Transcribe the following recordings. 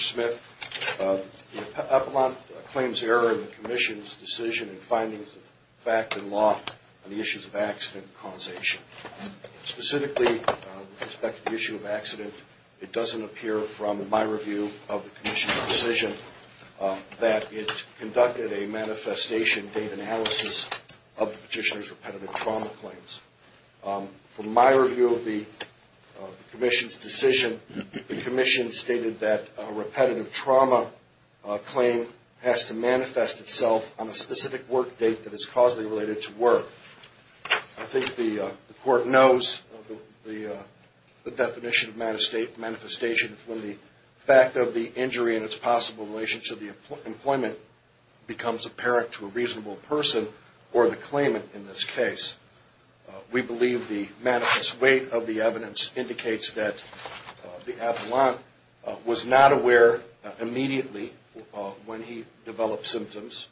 Smith. The appellant claims error in the Commission's decision and findings of fact and law on the issue of accident, it doesn't appear from my review of the Commission's decision that it conducted a manifestation data analysis of the petitioner's repetitive trauma claims. From my review of the Commission's decision, the Commission stated that a repetitive trauma claim has to manifest itself on a definition of manifestation when the fact of the injury and its possible relationship to employment becomes apparent to a reasonable person or the claimant in this case. We believe the weight of the evidence indicates that the appellant was not aware immediately when he developed symptoms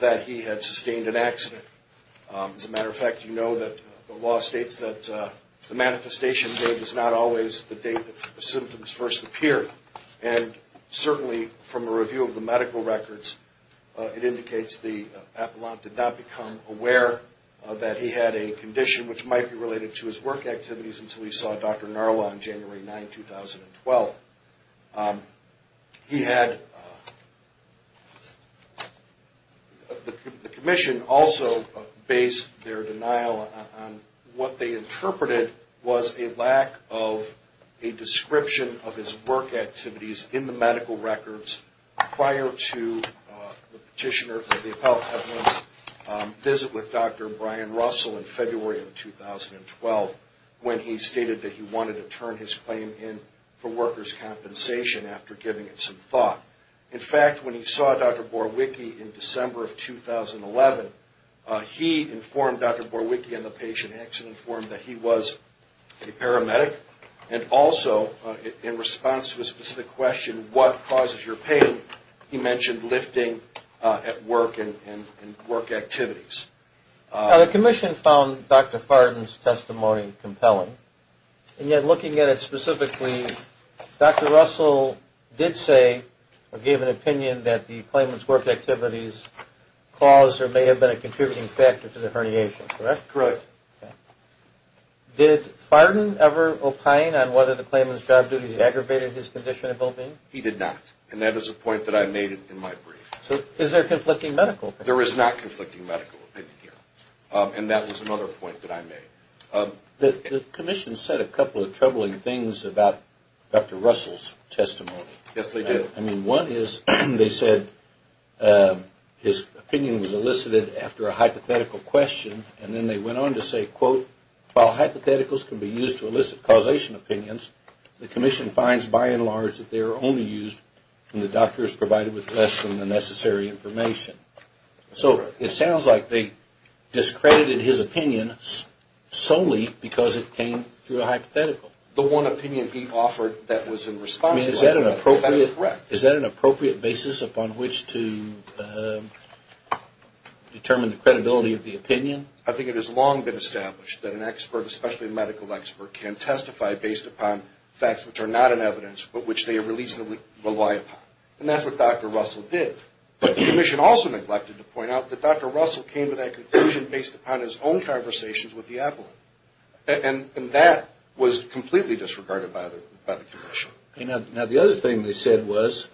that he had sustained an accident. As a matter of fact, you know that the law states that the manifestation date is not always the date the symptoms first appear. And certainly from a review of the medical records, it indicates the appellant did not become aware that he had a condition which might be related to his work activities until he saw Dr. Narla on January 9, 2012. The Commission also based their denial on what they interpreted was a lack of a description of his work activities in the medical records prior to the petitioner, the appellant visit with Dr. Brian Russell in February of 2012 when he stated that he wanted to turn his claim in for workers' compensation after giving it some thought. In fact, when he saw Dr. Payne, he mentioned lifting at work and work activities. Now, the Commission found Dr. Farden's testimony compelling. And yet looking at it specifically, Dr. Russell did say or gave an opinion that the claimant's work activities caused or may have been a contributing factor to the herniation, correct? Correct. Did Farden ever opine on whether the claimant's job duties aggravated his condition of well-being? He did not. And that is a point that I made in my brief. Is there conflicting medical opinion? There is not conflicting medical opinion. And that was another point that I made. The Commission said a couple of troubling things about Dr. Russell's testimony. Yes, they did. I mean, one is they said his opinion was elicited after a hypothetical question. And then they went on to say, quote, while hypotheticals can be used to elicit causation opinions, the doctor is provided with less than the necessary information. So it sounds like they discredited his opinion solely because it came through a hypothetical. The one opinion he offered that was in response. I mean, is that an appropriate basis upon which to determine the credibility of the opinion? I think it has long been established that an expert, especially a medical expert, can testify based upon facts which are not in evidence but which they reasonably rely upon. And that's what Dr. Russell did. But the Commission also neglected to point out that Dr. Russell came to that conclusion based upon his own conversations with the appellant. And that was completely disregarded by the Commission. Now, the other thing they said was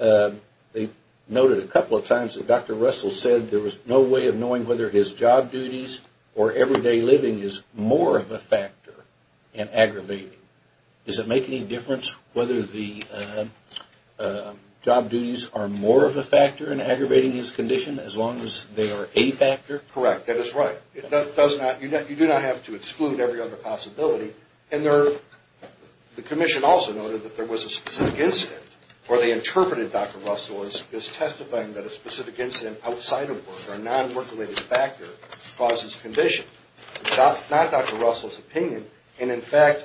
they noted a couple of times that Dr. Russell said there was no way of knowing whether his job duties or everyday living is more of a factor in aggravating. Does it make any difference whether the job duties are more of a factor in aggravating his condition as long as they are a factor? Correct. That is right. You do not have to exclude every other possibility. And the Commission also noted that there was a specific incident where they interpreted Dr. Russell as testifying that a specific incident outside of work or a non-work-related factor causes condition. It's not Dr. Russell's opinion. And, in fact,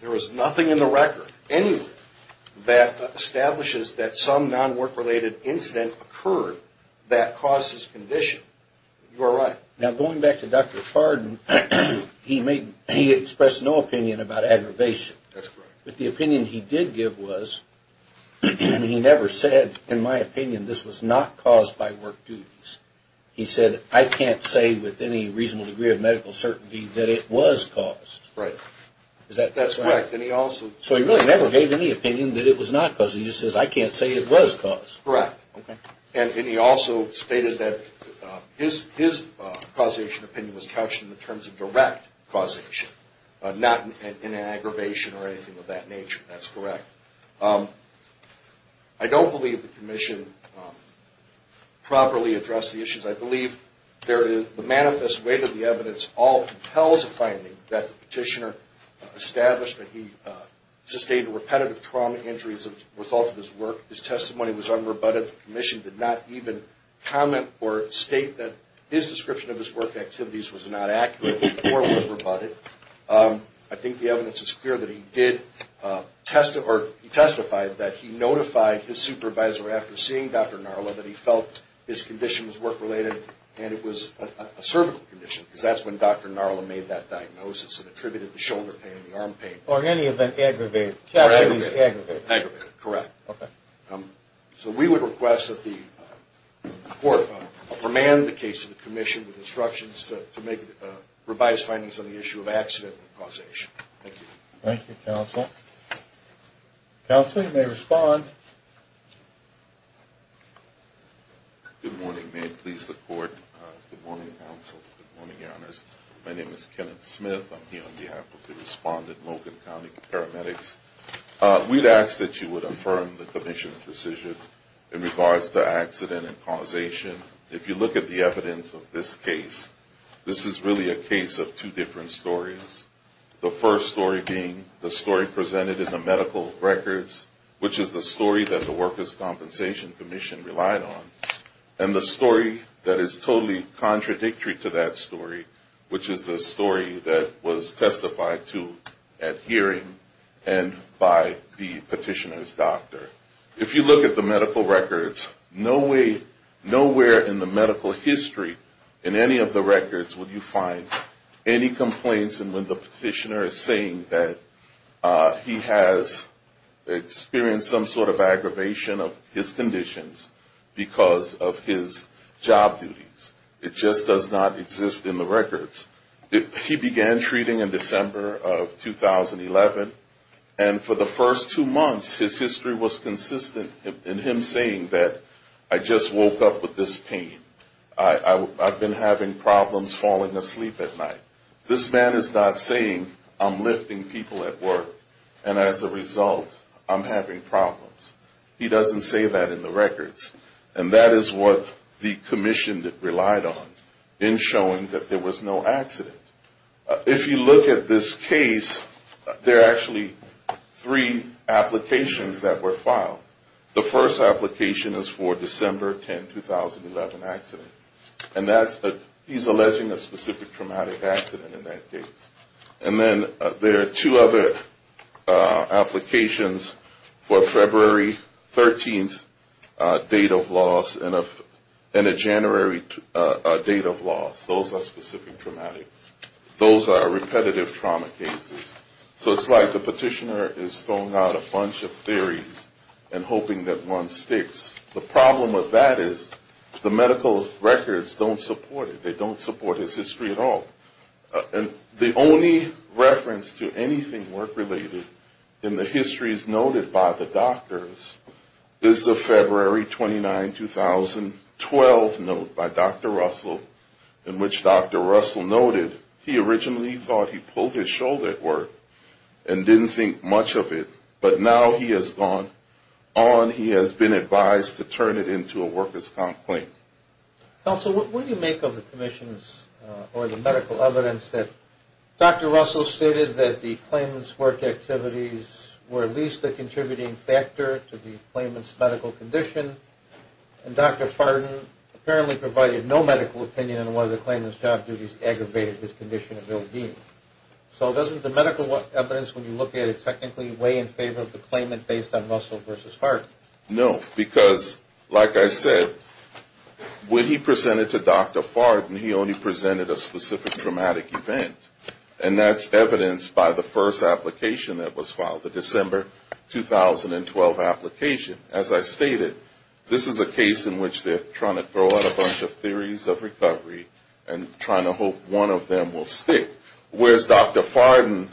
there is nothing in the record anywhere that establishes that some non-work-related incident occurred that caused his condition. You are right. Now, going back to Dr. Fardon, he expressed no opinion about aggravation. That's correct. But the opinion he did give was he never said, in my opinion, this was not caused by work duties. He said, I can't say with any reasonable degree of medical certainty that it was caused. Right. Is that correct? That's correct. So he really never gave any opinion that it was not caused. He just says, I can't say it was caused. Correct. Okay. And he also stated that his causation opinion was couched in the terms of direct causation, not in an aggravation or anything of that nature. That's correct. I don't believe the Commission properly addressed the issues. I believe the manifest weight of the evidence all compels a finding that the petitioner established that he sustained repetitive trauma injuries as a result of his work. His testimony was unrebutted. The Commission did not even comment or state that his description of his work activities was not accurate or was rebutted. I think the evidence is clear that he did test or he testified that he notified his supervisor after seeing Dr. Narla that he felt his condition was work-related and it was a cervical condition because that's when Dr. Narla made that diagnosis and attributed the shoulder pain and the arm pain. Or in any event aggravated. Aggravated. Correct. Okay. So we would request that the Court command the case to the Commission with instructions to make revised findings on the issue of accident and causation. Thank you. Thank you, Counsel. Counsel, you may respond. Good morning. May it please the Court. Good morning, Counsel. Good morning, Your Honors. My name is Kenneth Smith. I'm here on behalf of the respondent, Logan County Paramedics. We'd ask that you would affirm the Commission's decision in regards to accident and causation. If you look at the evidence of this case, this is really a case of two different stories. The first story being the story presented in the medical records, which is the story that the Workers' Compensation Commission relied on, and the story that is totally contradictory to that story, which is the story that was testified to at hearing and by the petitioner's doctor. If you look at the medical records, nowhere in the medical history in any of the records will you find any complaints in which the petitioner is saying that he has experienced some sort of aggravation of his conditions, because of his job duties. It just does not exist in the records. He began treating in December of 2011, and for the first two months, his history was consistent in him saying that, I just woke up with this pain. I've been having problems falling asleep at night. This man is not saying I'm lifting people at work, and as a result, I'm having problems. He doesn't say that in the records, and that is what the Commission relied on in showing that there was no accident. If you look at this case, there are actually three applications that were filed. The first application is for December 10, 2011 accident, and he's alleging a specific traumatic accident in that case. And then there are two other applications for February 13th date of loss and a January date of loss. Those are specific traumatic. Those are repetitive trauma cases. So it's like the petitioner is throwing out a bunch of theories and hoping that one sticks. The problem with that is the medical records don't support it. They don't support his history at all. The only reference to anything work-related in the histories noted by the doctors is the February 29, 2012 note by Dr. Russell in which Dr. Russell noted he originally thought he pulled his shoulder at work and didn't think much of it, but now he has gone on. He has been advised to turn it into a worker's complaint. Counsel, what do you make of the Commission's or the medical evidence that Dr. Russell stated that the claimant's work activities were at least a contributing factor to the claimant's medical condition, and Dr. Farden apparently provided no medical opinion on whether the claimant's job duties aggravated his condition of ill-being? So doesn't the medical evidence, when you look at it technically, weigh in favor of the claimant based on Russell versus Farden? No, because like I said, when he presented to Dr. Farden, he only presented a specific traumatic event, and that's evidenced by the first application that was filed, the December 2012 application. As I stated, this is a case in which they're trying to throw out a bunch of theories of recovery and trying to hope one of them will stick, whereas Dr. Farden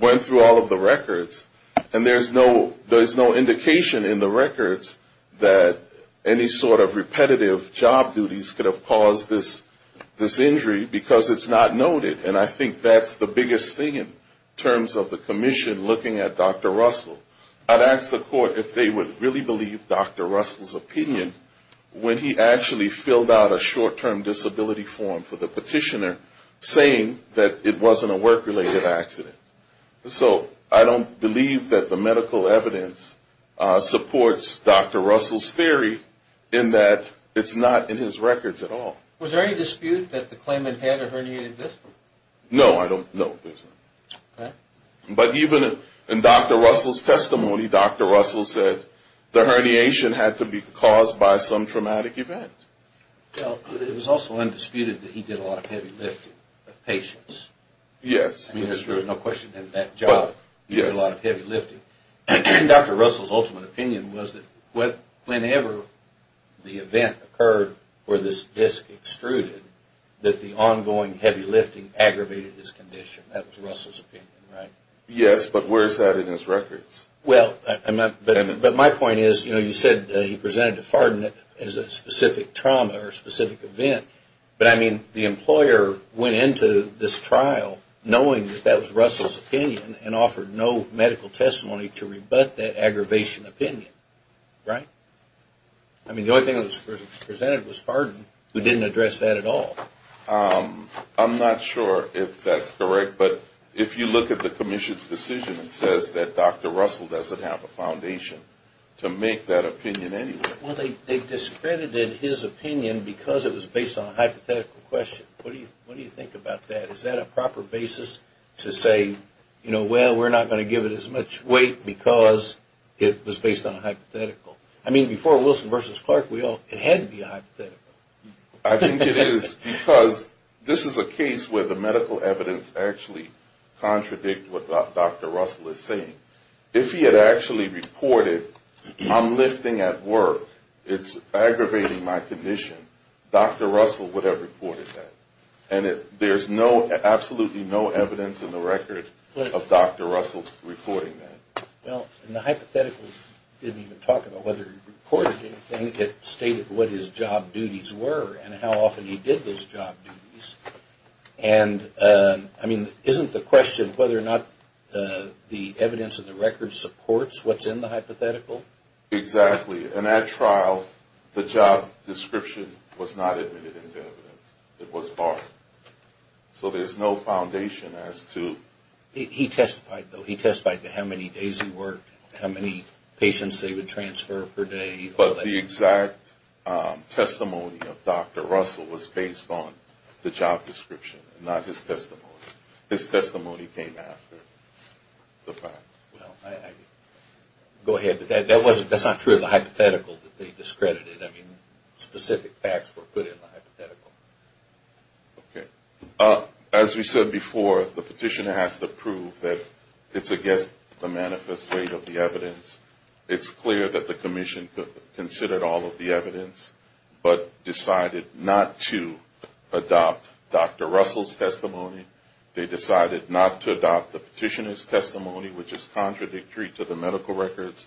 went through all of the records, and there's no indication in the records that Dr. Farden was involved. There's no indication in the records that any sort of repetitive job duties could have caused this injury, because it's not noted, and I think that's the biggest thing in terms of the Commission looking at Dr. Russell. I'd ask the court if they would really believe Dr. Russell's opinion when he actually filled out a short-term disability form for the petitioner, saying that it wasn't a work-related accident. So I don't believe that the medical evidence supports Dr. Russell's claim. It supports Dr. Russell's theory in that it's not in his records at all. Was there any dispute that the claimant had a herniated disc? No, I don't think so. Okay. But even in Dr. Russell's testimony, Dr. Russell said the herniation had to be caused by some traumatic event. Well, it was also undisputed that he did a lot of heavy lifting of patients. Yes. I mean, there's no question in that job, he did a lot of heavy lifting. Dr. Russell's ultimate opinion was that whenever the event occurred where this disc extruded, that the ongoing heavy lifting aggravated his condition. That was Russell's opinion, right? Yes, but where is that in his records? Well, but my point is, you know, you said he presented to Farden as a specific trauma or specific event. But I mean, the employer went into this trial knowing that that was Russell's opinion and offered no medical testimony to rebut that aggravation opinion, right? I mean, the only thing that was presented was Farden, who didn't address that at all. I'm not sure if that's correct, but if you look at the commission's decision, it says that Dr. Russell doesn't have a foundation to make that opinion anyway. Well, they discredited his opinion because it was based on a hypothetical question. What do you think about that? Is that a proper basis to say, you know, well, we're not going to give it as much weight because it was based on a hypothetical? I mean, before Wilson v. Clark, it had to be a hypothetical. I think it is because this is a case where the medical evidence actually contradicts what Dr. Russell is saying. If he had actually reported, I'm lifting at work, it's aggravating my condition, Dr. Russell would have reported that. And there's absolutely no evidence in the record of Dr. Russell's reporting that. Well, in the hypothetical, it didn't even talk about whether he reported anything. It stated what his job duties were and how often he did those job duties. And, I mean, isn't the question whether or not the evidence in the record supports what's in the hypothetical? Exactly. In that trial, the job description was not admitted into evidence. It was barred. So there's no foundation as to – He testified, though. He testified to how many days he worked, how many patients they would transfer per day. But the exact testimony of Dr. Russell was based on the job description, not his testimony. His testimony came after the fact. Well, I – go ahead. But that's not true of the hypothetical that they discredited. I mean, specific facts were put in the hypothetical. Okay. As we said before, the petitioner has to prove that it's against the manifest weight of the evidence. It's clear that the commission considered all of the evidence but decided not to adopt Dr. Russell's testimony. They decided not to adopt the petitioner's testimony, which is contradictory to the medical records,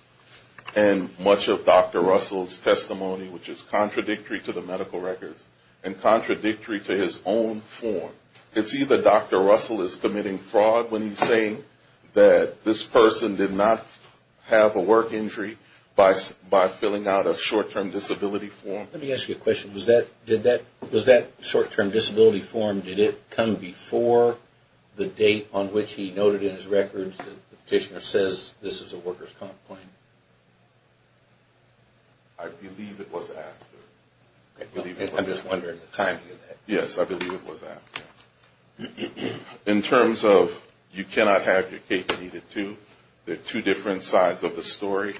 and much of Dr. Russell's testimony, which is contradictory to the medical records and contradictory to his own form. It's either Dr. Russell is committing fraud when he's saying that this person did not have a work injury by filling out a short-term disability form. Let me ask you a question. Was that short-term disability form, did it come before the date on which he noted in his records that the petitioner says this is a worker's complaint? I believe it was after. I'm just wondering the timing of that. Yes, I believe it was after. In terms of you cannot have your cake and eat it too, there are two different sides of the story.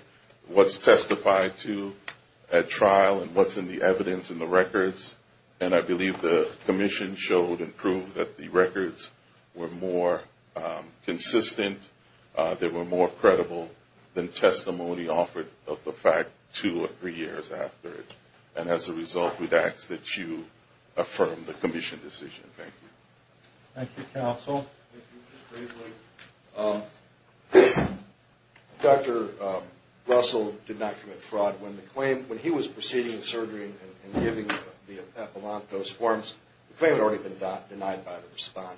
What's testified to at trial and what's in the evidence and the records, and I believe the commission showed and proved that the records were more consistent, they were more credible than testimony offered of the fact two or three years after it. And as a result, we'd ask that you affirm the commission decision. Thank you. Thank you, counsel. Dr. Russell did not commit fraud. When he was proceeding with surgery and giving the appellant those forms, the claim had already been denied by the respondent.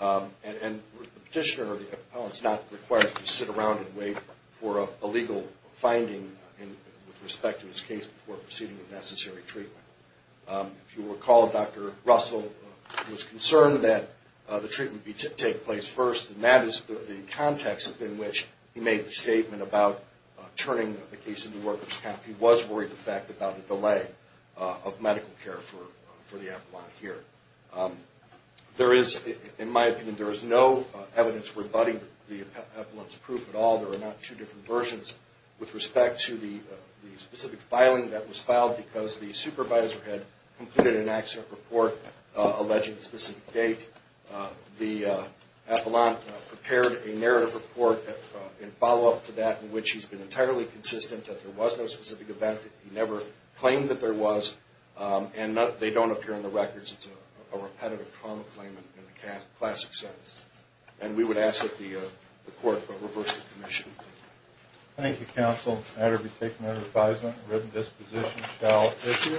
And the petitioner or the appellant is not required to sit around and wait for a legal finding with respect to his case before proceeding with necessary treatment. If you recall, Dr. Russell was concerned that the treatment take place first, and that is the context in which he made the statement about turning the case into workers' comp. He was worried, in fact, about the delay of medical care for the appellant here. In my opinion, there is no evidence rebutting the appellant's proof at all. There are not two different versions with respect to the specific filing that was filed because the supervisor had completed an accident report alleging a specific date. The appellant prepared a narrative report in follow-up to that in which he's been entirely consistent that there was no specific event. He never claimed that there was, and they don't appear in the records. It's a repetitive trauma claim in the classic sense. And we would ask that the court reverse the commission. Thank you, counsel. It's a matter to be taken under advisement. A written disposition shall issue.